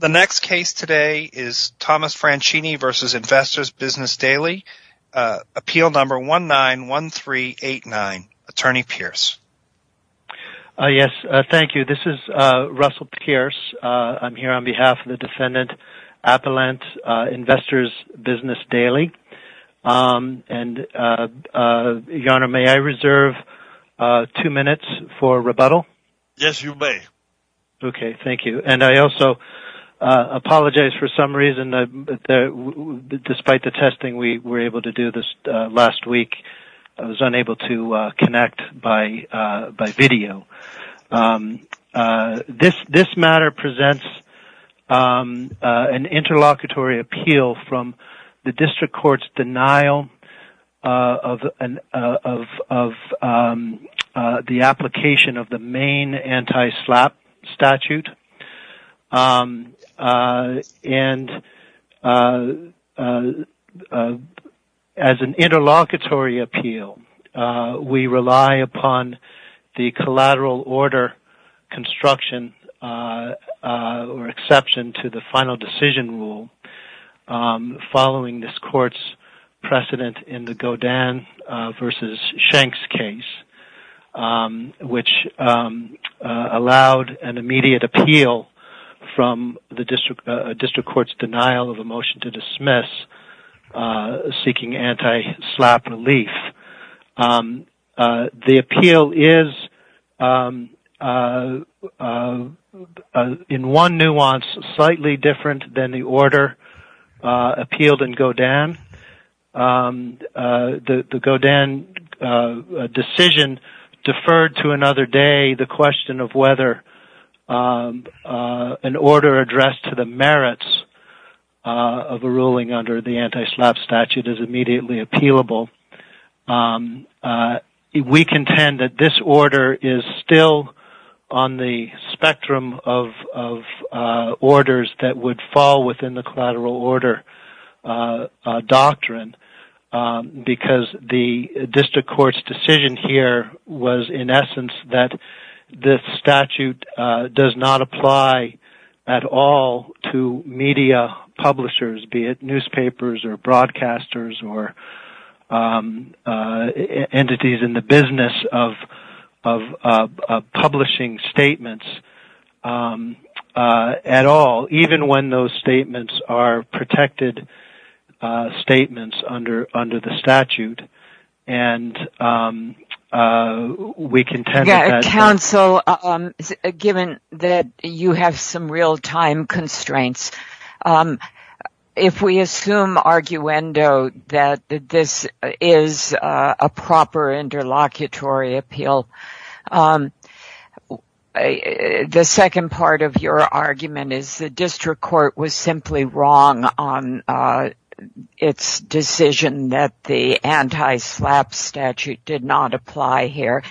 The next case today is Thomas Franchini v. Investors Business Daily, Appeal Number 191389, Attorney Pierce. Russell Pierce, Jr. I'm here on behalf of the defendant, Appellant Investors Business Daily, and Your Honor, may I reserve two minutes for rebuttal? Yes, you may. Okay, thank you. And I also apologize for some reason, despite the testing we were able to do this last week, I was unable to connect by video. This matter presents an interlocutory appeal from the district court's denial of the application of the main anti-SLAPP statute. As an interlocutory appeal, we rely upon the collateral order construction or exception to the final decision rule following this court's precedent in the Godin v. Shenks case, which allowed an immediate appeal from the district court's denial of a motion to dismiss seeking anti-SLAPP relief. The appeal is, in one nuance, slightly different than the order appealed in Godin. The Godin decision deferred to another day the question of whether an order addressed to the merits of a ruling under the anti-SLAPP statute is immediately appealable. We contend that this order is still on the spectrum of orders that would fall within the collateral order doctrine, because the district court's decision here was in essence that this statute does not apply at all to media publishers, be it newspapers or broadcasters or entities in the business of publishing statements at all, even when those statements are protected statements under the statute. Counsel, given that you have some real-time constraints, if we assume that this is a proper interlocutory appeal, the second part of your argument is that the district court was simply wrong on its decision that the anti-SLAPP statute did not apply here.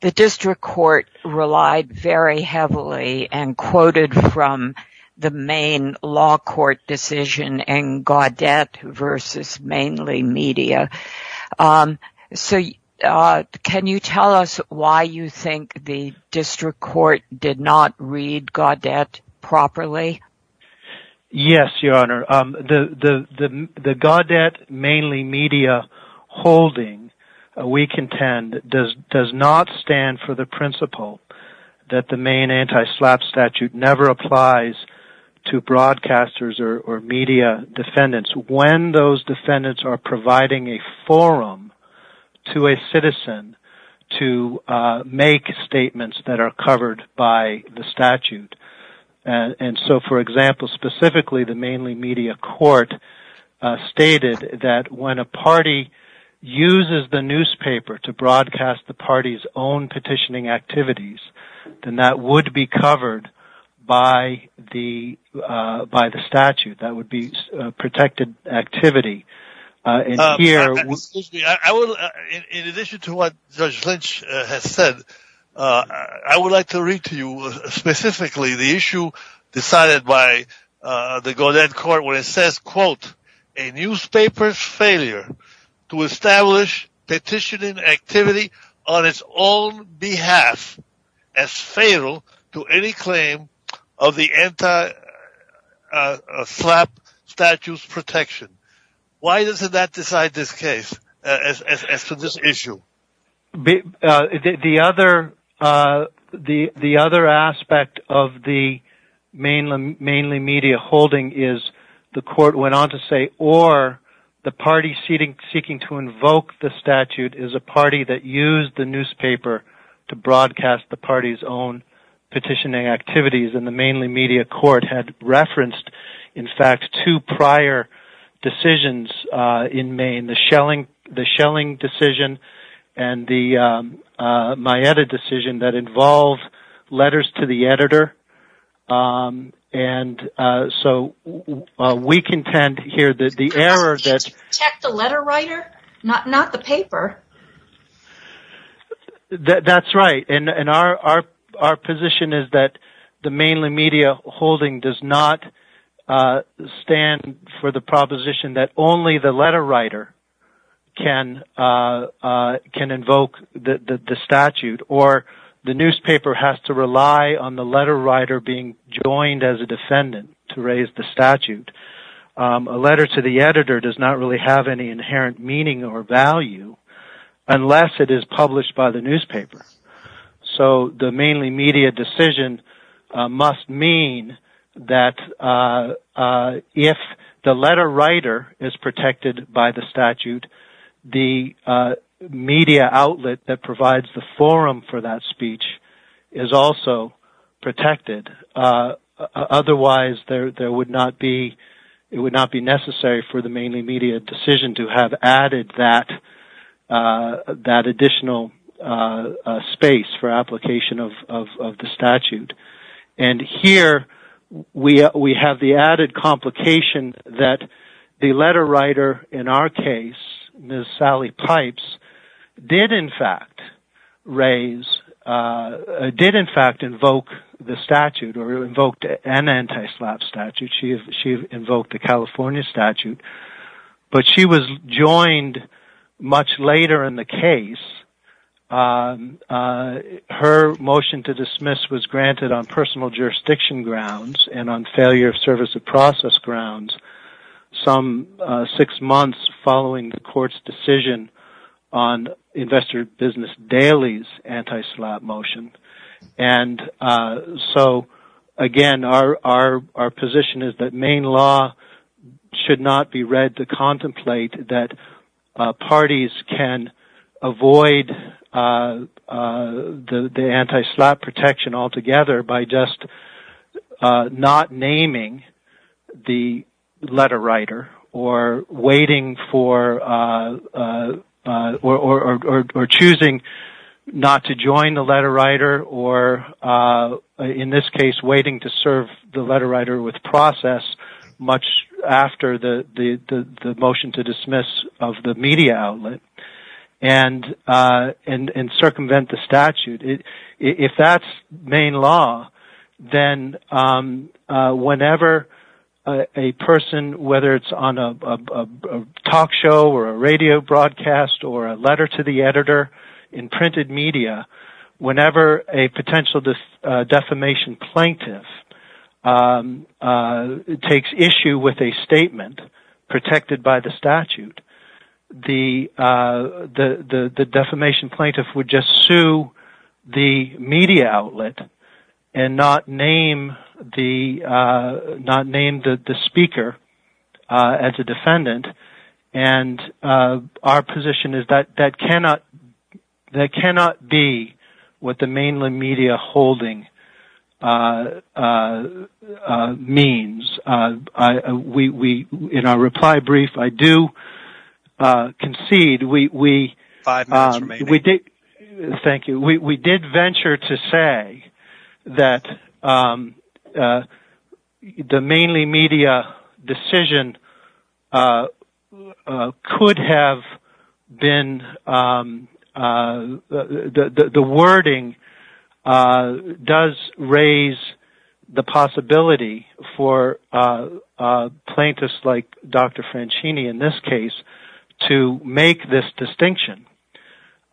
The district court relied very heavily and quoted from the main law court decision in Gaudet v. Mainly Media. Can you tell us why you think the district court did not read Gaudet properly? Yes, Your Honor. The Gaudet Mainly Media holding, we contend, does not stand for the principle that the main anti-SLAPP statute never applies to broadcasters or media defendants when those defendants are providing a forum to a citizen to make statements that are covered by the statute. For example, specifically, the Mainly Media court stated that when a party uses the newspaper to broadcast the party's own petitioning activities, then that would be covered by the statute. That would be a protected activity. In addition to what Judge Lynch has said, I would like to read to you specifically the issue decided by the Gaudet court where it says, quote, a newspaper's failure to establish petitioning activity on its own behalf as fatal to any claim of the anti-SLAPP statute's protection. Why does that decide this case, as to this issue? The other aspect of the Mainly Media holding is the court went on to say, or the party seeking to invoke the statute is a party that used the newspaper to broadcast the party's own petitioning activities, and the Mainly Media court had referenced, in fact, two prior decisions in Maine, the Schelling decision and the Maeta decision that involved letters to the editor. To protect the letter writer? Not the paper? That's right. Our position is that the Mainly Media holding does not stand for the proposition that only the letter writer can invoke the statute, or the newspaper has to rely on the letter writer being joined as a defendant to raise the statute. A letter to the editor does not really have any inherent meaning or value unless it is published by the newspaper. So the Mainly Media decision must mean that if the letter writer is protected by the statute, the media outlet that provides the forum for that speech is also protected. Otherwise, it would not be necessary for the Mainly Media decision to have added that additional space for application of the statute. Here, we have the added complication that the letter writer, in our case, Ms. Sally Pipes, did, in fact, invoke the statute. She invoked the California statute, but she was joined much later in the case. Her motion to dismiss was granted on personal jurisdiction grounds and on failure of service of process grounds some six months following the court's decision on Investor Business Daily's anti-slap motion. Again, our position is that Maine law should not be read to contemplate that parties can avoid the anti-slap protection altogether by just not naming the letter writer or choosing not to join the letter writer or, in this case, waiting to serve the letter writer with and circumvent the statute. If that's Maine law, then whenever a person, whether it's on a talk show or a radio broadcast or a letter to the editor in printed media, whenever a potential defamation plaintiff takes issue with a statement protected by the statute, the defamation plaintiff would just sue the media outlet and not name the speaker as a defendant. Our position is that that cannot be what the Mainland media holding means. In our reply brief, I do concede we Thank you. We did venture to say that the Mainland media decision could have been, the wording does raise the possibility for plaintiffs like Dr. Francini, in this case, to make this distinction.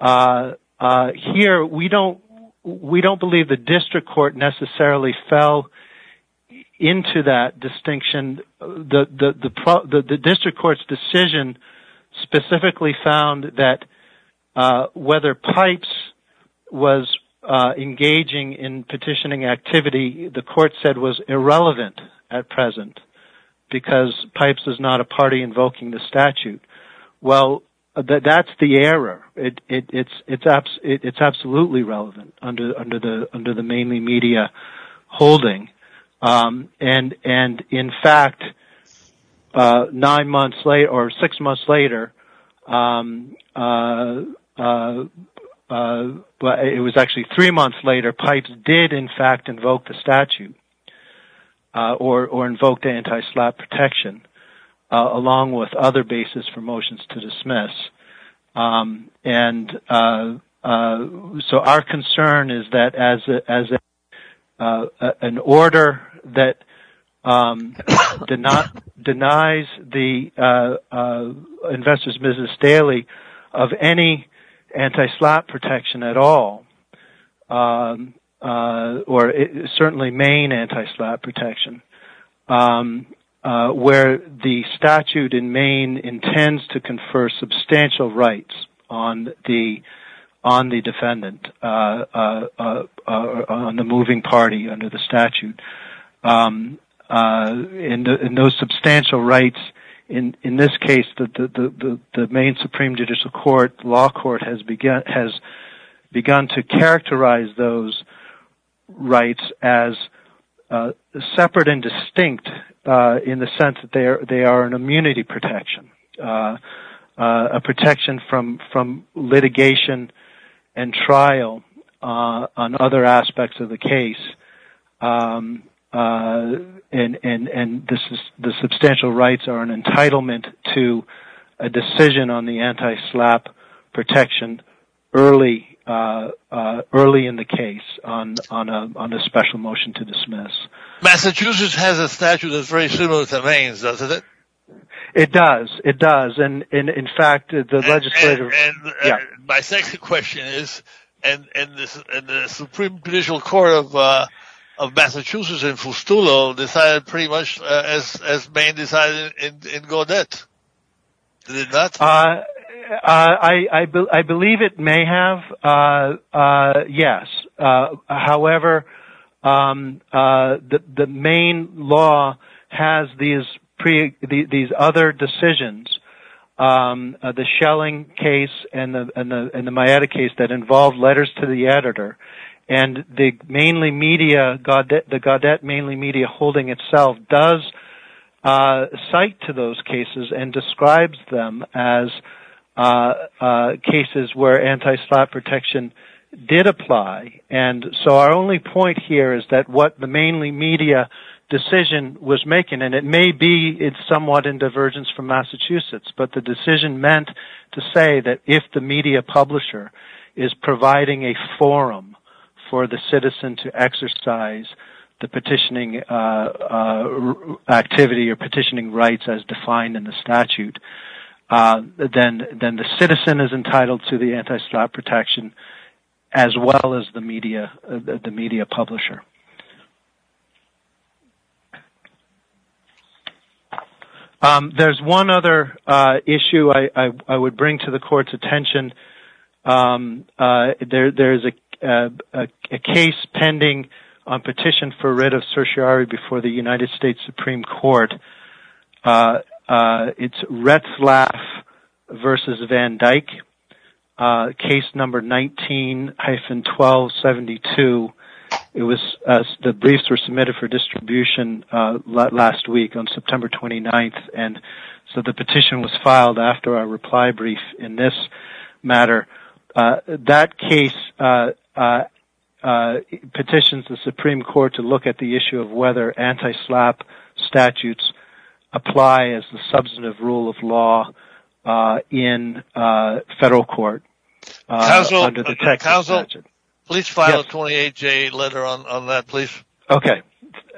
Here, we don't believe the district court necessarily fell into that distinction. The district court's decision specifically found that whether Pipes was engaging in petitioning activity, the court said, was irrelevant at present because Pipes is not a party invoking the statute. That's the error. It's six months later, it was actually three months later, Pipes did, in fact, invoke the statute or invoke anti-slap protection, along with other basis for motions to dismiss. Our concern is that as an order that denies the investors business daily of any anti-slap protection at all, or certainly Maine anti-slap protection, where the statute in Maine intends to confer substantial rights on the defendant, on the moving party under the statute. In those substantial rights, in this case, the Maine Supreme Judicial Court Law Court has begun to characterize those rights as separate and distinct in the sense that they are an protection from litigation and trial on other aspects of the case. The substantial rights are an entitlement to a decision on the anti-slap protection early in the case on a special motion to dismiss. Massachusetts has a statute that's very similar to Maine's, doesn't it? It does, it does. My second question is, the Supreme Judicial Court of Massachusetts in Fustolo decided pretty much as Maine decided in Gaudet, did it not? I believe it may have, yes. However, the Maine law has these other decisions, the Schelling case and the Maieta case that involve letters to the editor. The Gaudet Mainly Media holding itself does cite to those cases where anti-slap protection did apply. Our only point here is that what the Mainly Media decision was making, and it may be somewhat in divergence from Massachusetts, but the decision meant to say that if the media publisher is providing a forum for the citizen to exercise the petitioning activity or petitioning rights as defined in the statute, then the citizen is entitled to the anti-slap protection as well as the media publisher. There's one other issue I would bring to the court's attention. There's a case pending on petition for writ of Retzlaff v. Van Dyck, case number 19-1272. The briefs were submitted for distribution last week on September 29th, so the petition was filed after our reply brief in this matter. That case petitioned the Supreme Court to apply as the substantive rule of law in federal court under the Texas statute. Counsel, please file a 28-J letter on that, please. Okay,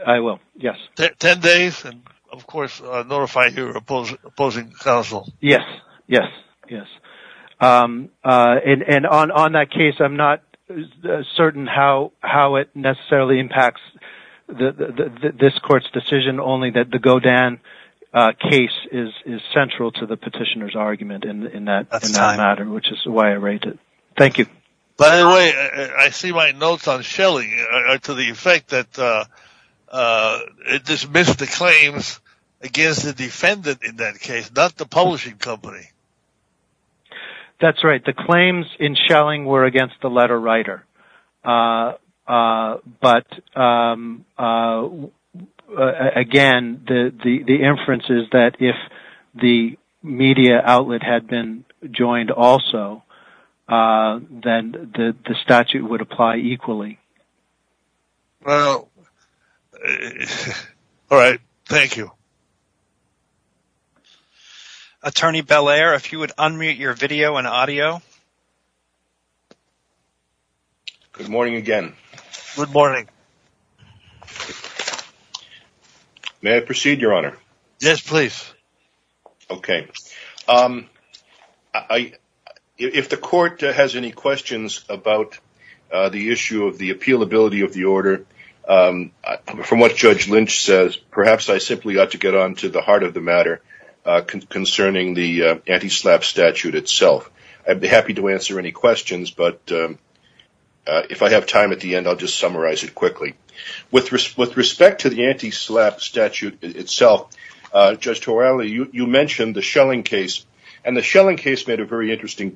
I will, yes. Ten days, and of course notify your opposing counsel. Yes, yes. And on that case, I'm not certain how it necessarily impacts this court's decision, only that the Godin case is central to the petitioner's argument in that matter, which is why I rate it. Thank you. By the way, I see my notes on Schelling are to the effect that it dismissed the claims against the defendant in that case, not the publishing company. That's right. The claims in Schelling were against the letter writer. But again, the inference is that if the media outlet had been joined also, then the statute would apply equally. Well, all right. Thank you. Attorney Belair, if you would unmute your video and audio. Good morning again. Good morning. May I proceed, Your Honor? Yes, please. Okay. If the court has any questions about the issue of the appealability of the order, from what Judge Lynch says, perhaps I simply ought to get on to the heart of the matter concerning the anti-SLAPP statute itself. I'd be happy to answer any questions, but if I have time at the end, I'll just summarize it quickly. With respect to the anti-SLAPP statute itself, Judge Torelli, you mentioned the Schelling case. And the Schelling case made a very interesting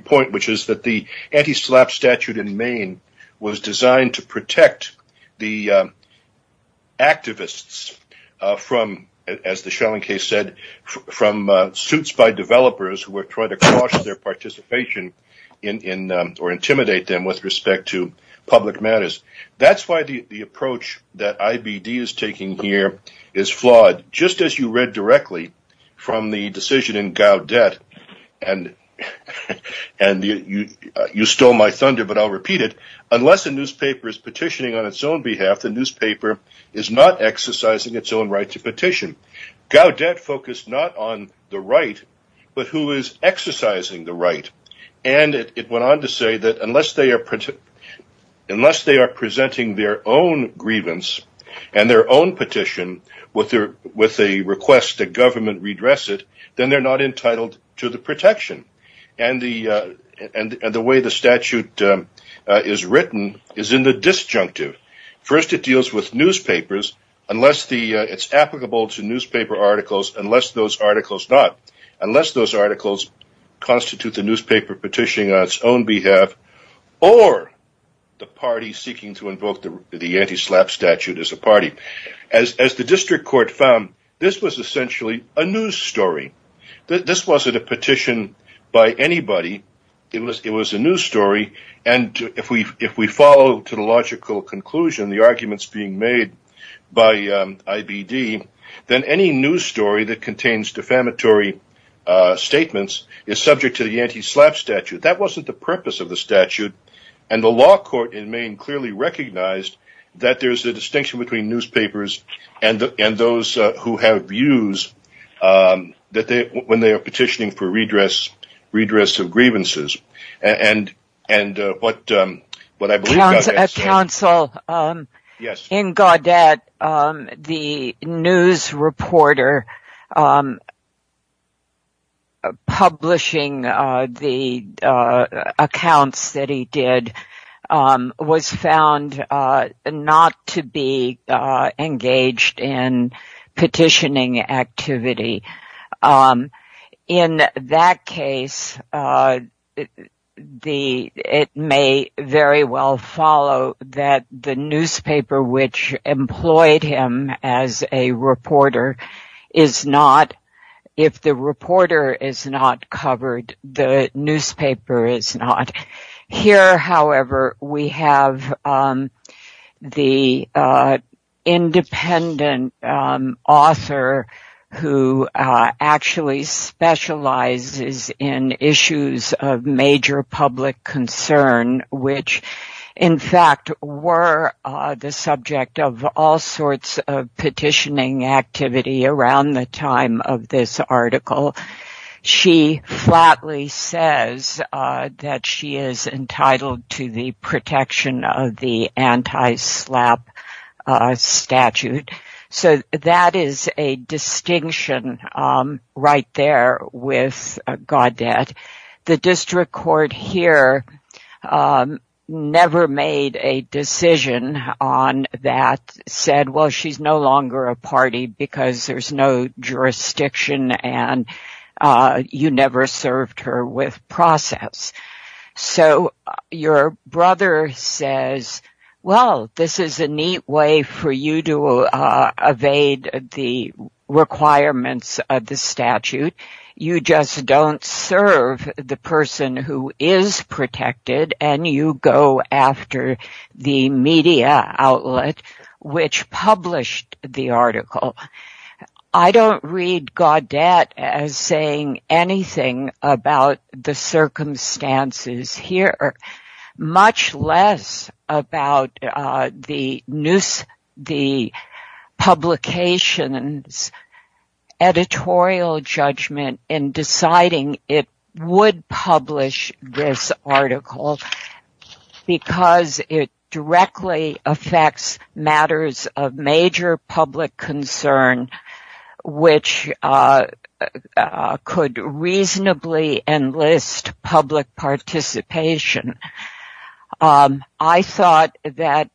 point, which is that the anti-SLAPP statute in Maine was designed to protect the activists from, as the Schelling case said, from suits by developers who were trying to caution their That's why the approach that IBD is taking here is flawed. Just as you read directly from the decision in Gaudet, and you stole my thunder, but I'll repeat it, unless a newspaper is petitioning on its own behalf, the newspaper is not exercising its own right to petition. Gaudet focused not on the right, but who is exercising the right. And it went on to say that unless they are presenting their own grievance and their own petition with a request that government redress it, then they're not entitled to the protection. And the way the statute is written is in the disjunctive. First, it deals with newspapers, unless it's applicable to newspaper articles, unless those articles constitute the newspaper petitioning on its own behalf, or the party seeking to invoke the anti-SLAPP statute as a party. As the district court found, this was essentially a news story. This wasn't a petition by anybody. It was a news story, and if we follow to the logical conclusion, the arguments being made by IBD, then any news story that contains defamatory statements is subject to the anti-SLAPP statute. That wasn't the purpose of the statute, and the law court in Maine clearly recognized that there's a distinction between newspapers and those who have views when they are petitioning for redress of grievances. Council, in Gaudet, the news reporter publishing the accounts that he did was found not to be engaged in petitioning activity. In that case, it may very well follow that the newspaper which employed him as a reporter is not. If the reporter is not covered, the newspaper is not. Here, however, we have the independent author who actually specializes in issues of major public concern, which in fact were the subject of all sorts of petitioning activity around the time of this article. She flatly says that she is entitled to the protection of the anti-SLAPP statute. So that is a distinction right there with Gaudet. The district court here never made a decision on that, and said, well, she's no longer a party because there's no jurisdiction and you never served her with process. So your brother says, well, this is a neat way for you to evade the requirements of the statute. You just don't serve the person who is protected and you go after the media outlet which published the article. I don't read Gaudet as saying anything about the circumstances here, much less about the publication's editorial judgment in deciding it would publish this article because it directly affects matters of major public concern, which could reasonably enlist public participation. I thought that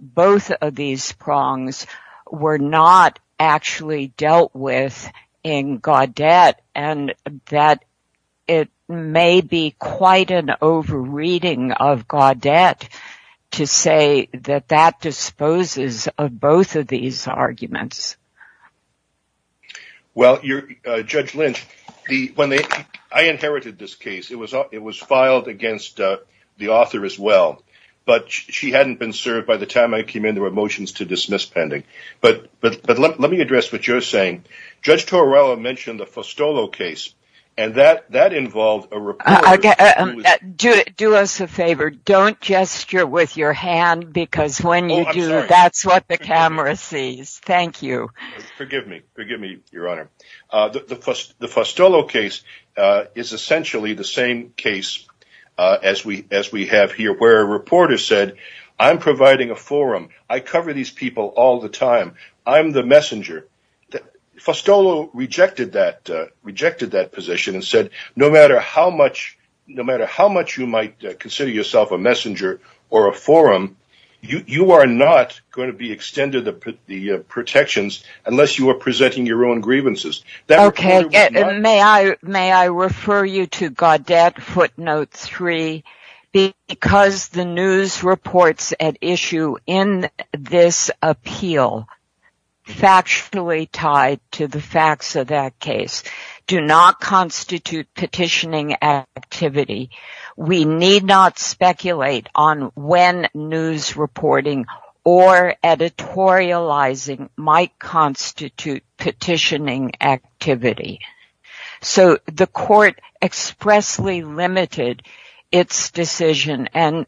both of these prongs were not actually dealt with in Gaudet, and that it may be quite an over-reading of Gaudet to say that that disposes of both of these arguments. Well, Judge Lynch, I inherited this case. It was filed against the author as well, but she hadn't been served by the time I came in. There were motions to dismiss pending. But let me address what you're saying. Judge Torello mentioned the Fostolo case, and that involved a report. Do us a favor. Don't gesture with your hand because when you do, that's what the camera sees. Thank you. Forgive me, Your Honor. The Fostolo case is essentially the same case as we have here, where a reporter said, I'm providing a forum. I cover these people all the time. I'm the messenger. Fostolo rejected that position and said, no matter how much you might consider yourself a messenger or a forum, you are not going to be extended the protections unless you are presenting your own grievances. Okay. May I refer you to Gaudet footnote three? Because the news reports at issue in this appeal factually tied to the facts of that case do not constitute petitioning activity. We need not speculate on when news reporting or editorializing might constitute petitioning activity. So the court expressly limited its decision and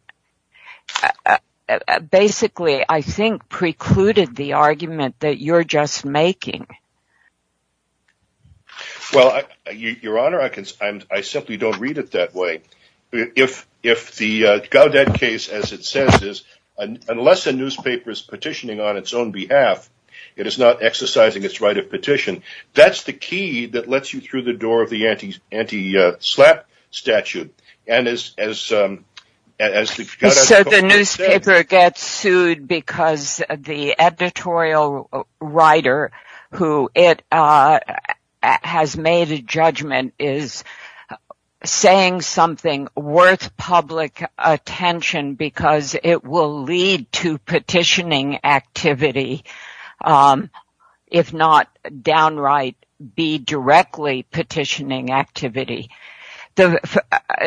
basically, I think, precluded the argument that you're just making. Well, Your Honor, I simply don't read it that way. If the Gaudet case, as it says, unless a newspaper is petitioning on its own behalf, it is not exercising its right of petition. That's the key that lets you through the door of the anti-SLAPP statute. So the newspaper gets sued because the editorial writer who it has made a judgment is saying something worth public attention because it will lead to petitioning activity, if not downright be directly petitioning activity. The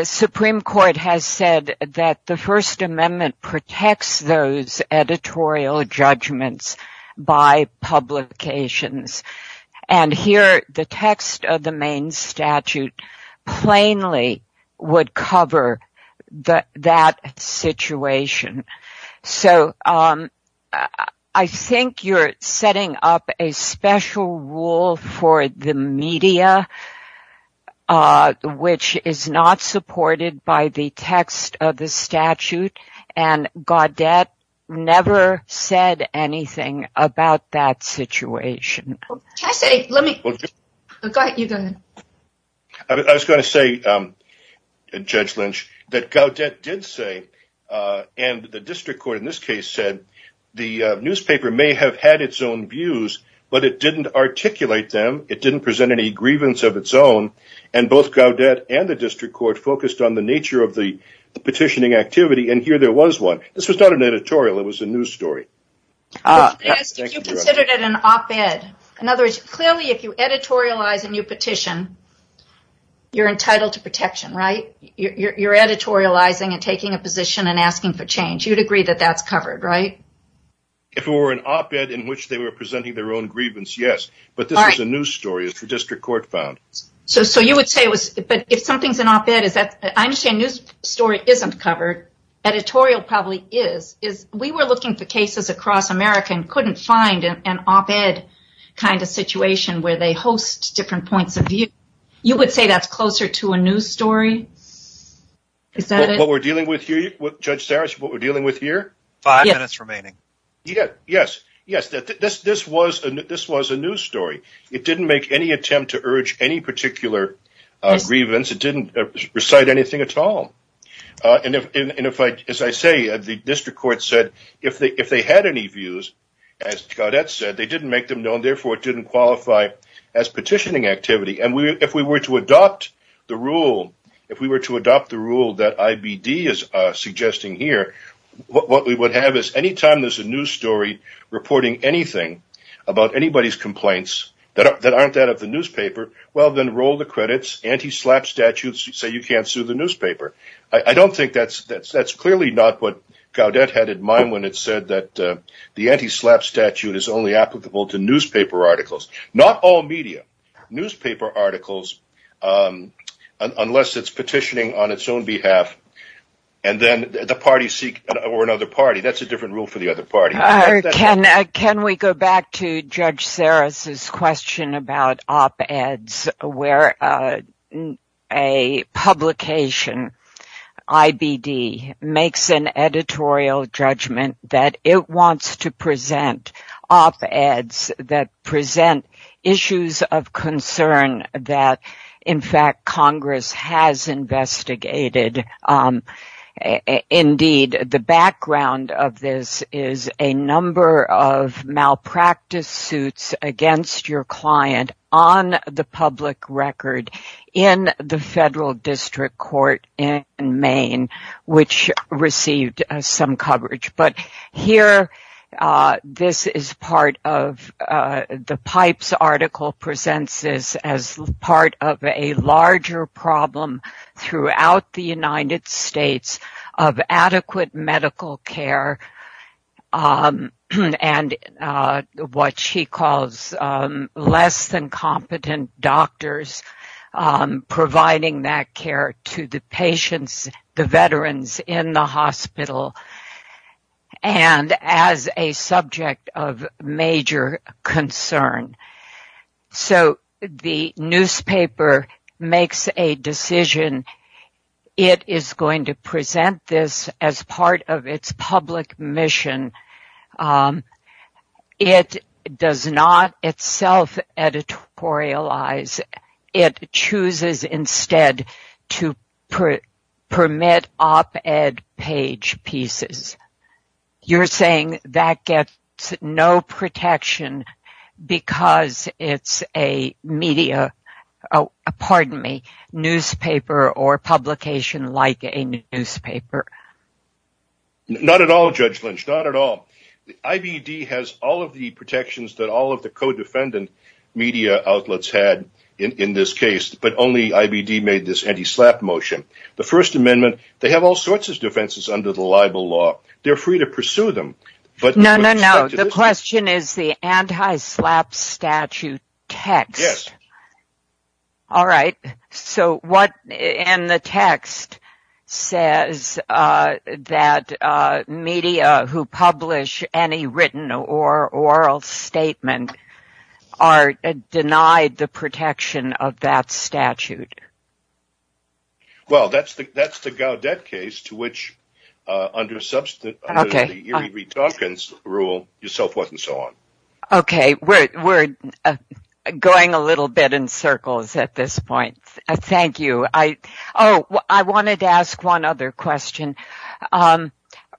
Supreme Court has said that the First Amendment protects those editorial judgments by publications. And here, the text of the main statute plainly would cover that situation. So I think you're setting up a special rule for the media, which is not supported by the text of the statute. And Gaudet never said anything about that situation. I was going to say, Judge Lynch, that Gaudet did say, and the district court in this case said, the newspaper may have had its own views, but it didn't articulate them. It didn't present any grievance of its own. And both Gaudet and the district court focused on the nature of the petitioning activity. And here there was one. This was not an editorial. It was a news story. I was going to ask if you considered it an op-ed. In other words, clearly if you editorialize a new petition, you're entitled to protection, right? You're editorializing and taking a position and asking for change. You'd agree that that's covered, right? If it were an op-ed in which they were presenting their own grievance, yes. But this was a news story. It's the district court found. So you would say it was, but if something's an op-ed, I understand news story isn't covered. Editorial probably is. We were looking for cases across America and couldn't find an op-ed kind of situation where they host different points of view. You would say that's closer to a news story? Is that it? What we're dealing with here, Judge Sarris, what we're dealing with here? Five minutes remaining. Yes. Yes. This was a news story. It didn't make any attempt to urge any particular grievance. It didn't recite anything at all. As I say, the district court said if they had any views, as Gaudette said, they didn't make them known. Therefore, it didn't qualify as petitioning activity. And if we were to adopt the rule, if we were to adopt the rule that IBD is suggesting here, what we would have is anytime there's a news story reporting anything about anybody's complaints that aren't that of the newspaper, well, then roll the credits. Anti-SLAPP statutes say you can't sue the newspaper. I don't think that's – that's clearly not what Gaudette had in mind when it said that the anti-SLAPP statute is only applicable to newspaper articles. Not all media. Newspaper articles, unless it's petitioning on its own behalf, and then the parties seek – or another party. That's a different rule for the other party. Can we go back to Judge Sarris's question about op-eds where a publication, IBD, makes an editorial judgment that it wants to present op-eds that present issues of concern that, in fact, Congress has investigated. Indeed, the background of this is a number of malpractice suits against your client on the public record in the federal district court in Maine, which received some coverage. But here, this is part of – the Pipes article presents this as part of a larger problem throughout the United States of adequate medical care and what she calls less-than-competent doctors providing that care to the patients, the veterans in the hospital. And as a subject of major concern. So, the newspaper makes a decision. It is going to present this as part of its public mission. It does not itself editorialize. It chooses instead to permit op-ed page pieces. You're saying that gets no protection because it's a media – pardon me – newspaper or publication like a newspaper? Not at all, Judge Lynch. Not at all. IBD has all of the protections that all of the co-defendant media outlets had in this case, but only IBD made this anti-SLAPP motion. The First Amendment – they have all sorts of defenses under the libel law. They're free to pursue them. No, no, no. The question is the anti-SLAPP statute text. Yes. All right. So, what in the text says that media who publish any written or oral statement are denied the protection of that statute? Well, that's the Gaudette case to which under the Erie R. Dawkins rule, so forth and so on. Okay. We're going a little bit in circles at this point. Thank you. Oh, I wanted to ask one other question.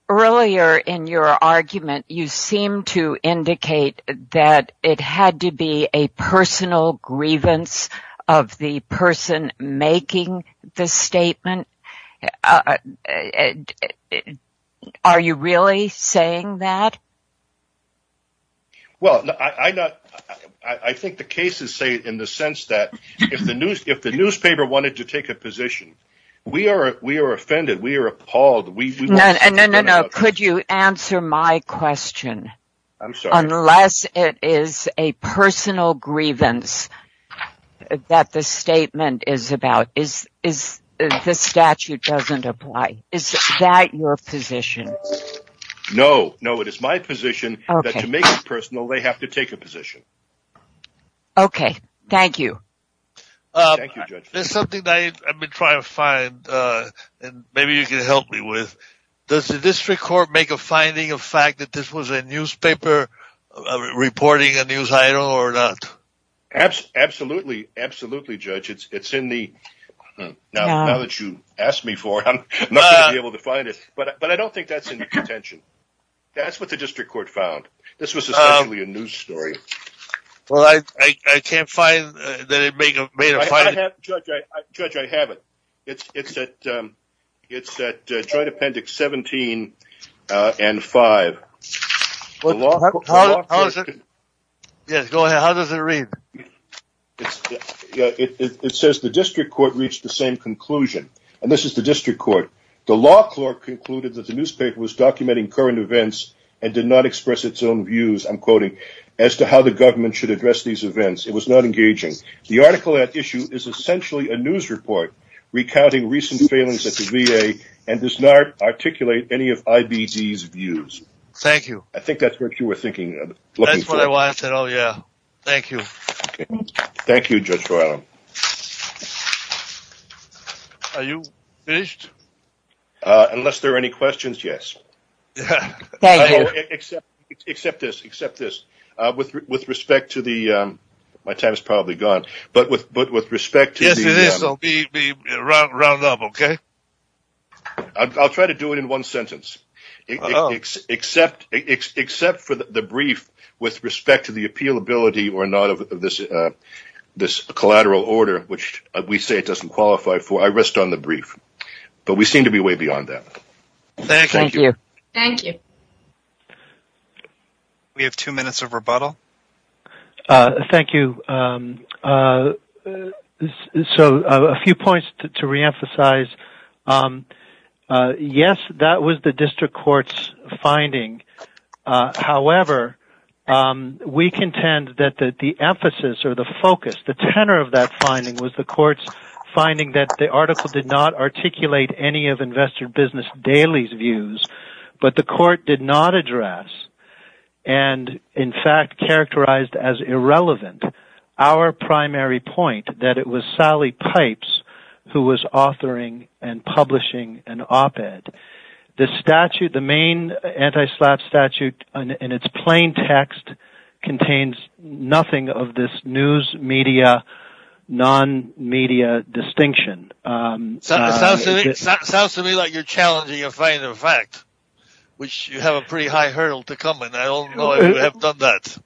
Earlier in your argument, you seemed to indicate that it had to be a personal grievance of the person making the statement. Are you really saying that? Well, I think the cases say in the sense that if the newspaper wanted to take a position, we are offended. We are appalled. No, no, no. Could you answer my question? I'm sorry. Unless it is a personal grievance that the statement is about, this statute doesn't apply. Is that your position? No, no. It is my position that to make it personal, they have to take a position. Okay. Thank you. Thank you, Judge. There's something that I've been trying to find, and maybe you can help me with. Does the district court make a finding of fact that this was a newspaper reporting a news item or not? Absolutely, absolutely, Judge. It's in the... Now that you've asked me for it, I'm not going to be able to find it. But I don't think that's in your contention. That's what the district court found. This was essentially a news story. Well, I can't find that it made a finding. Judge, I have it. It's at Joint Appendix 17 and 5. How is it? Yes, go ahead. How does it read? It says the district court reached the same conclusion. And this is the district court. The law clerk concluded that the newspaper was documenting current events and did not express its own views, I'm quoting, as to how the government should address these events. It was not engaging. The article at issue is essentially a news report recounting recent failings at the VA and does not articulate any of IBD's views. Thank you. I think that's what you were looking for. That's what I wanted. Oh, yeah. Thank you. Thank you, Judge. Are you finished? Unless there are any questions, yes. Except except this, except this with respect to the my time is probably gone. But with but with respect to this, I'll be round up, OK? I'll try to do it in one sentence, except except for the brief with respect to the appeal ability or not of this, this collateral order, which we say it doesn't qualify for. I rest on the brief. But we seem to be way beyond that. Thank you. Thank you. We have two minutes of rebuttal. Thank you. So a few points to reemphasize. Yes, that was the district court's finding. However, we contend that the emphasis or the focus, the tenor of that finding was the court's finding that the article did not articulate any of investor business dailies views, but the court did not address and in fact characterized as irrelevant. Our primary point that it was Sally Pipes who was authoring and publishing an op ed. The statute, the main anti-slap statute in its plain text contains nothing of this news media, non-media distinction. Sounds to me like you're challenging a final fact, which you have a pretty high hurdle to come in. I don't know if you have done that.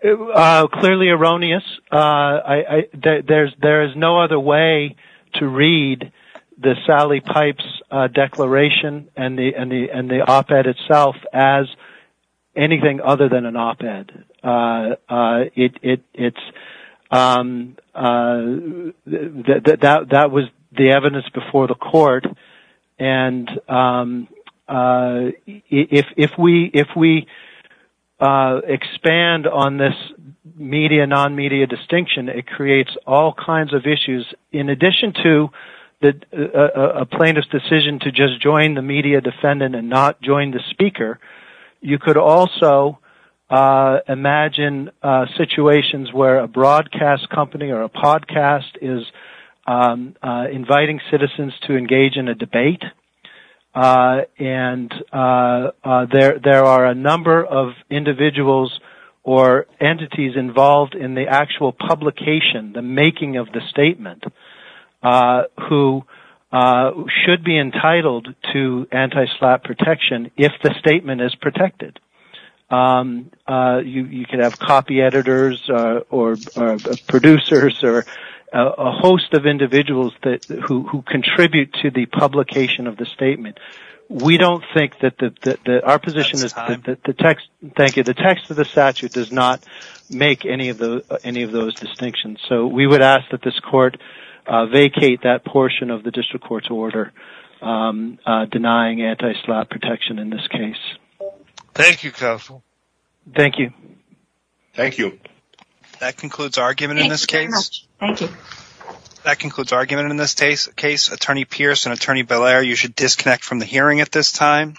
Clearly erroneous. There is no other way to read the Sally Pipes declaration and the op ed itself as anything other than an op ed. That was the evidence before the court and if we expand on this media, non-media distinction, it creates all kinds of issues. In addition to a plaintiff's decision to just join the media defendant and not join the speaker, you could also imagine situations where a broadcast company or a podcast is inviting citizens to engage in a debate. There are a number of individuals or entities involved in the actual publication, the making of the statement, who should be entitled to anti-slap protection if the statement is protected. You could have copy editors or producers or a host of individuals who contribute to the publication of the statement. The text of the statute does not make any of those distinctions, so we would ask that this court vacate that portion of the district court's order denying anti-slap protection in this case. Thank you, counsel. Thank you. Thank you. That concludes argument in this case. Thank you. That concludes argument in this case. Attorney Pierce and Attorney Belair, you should disconnect from the hearing at this time.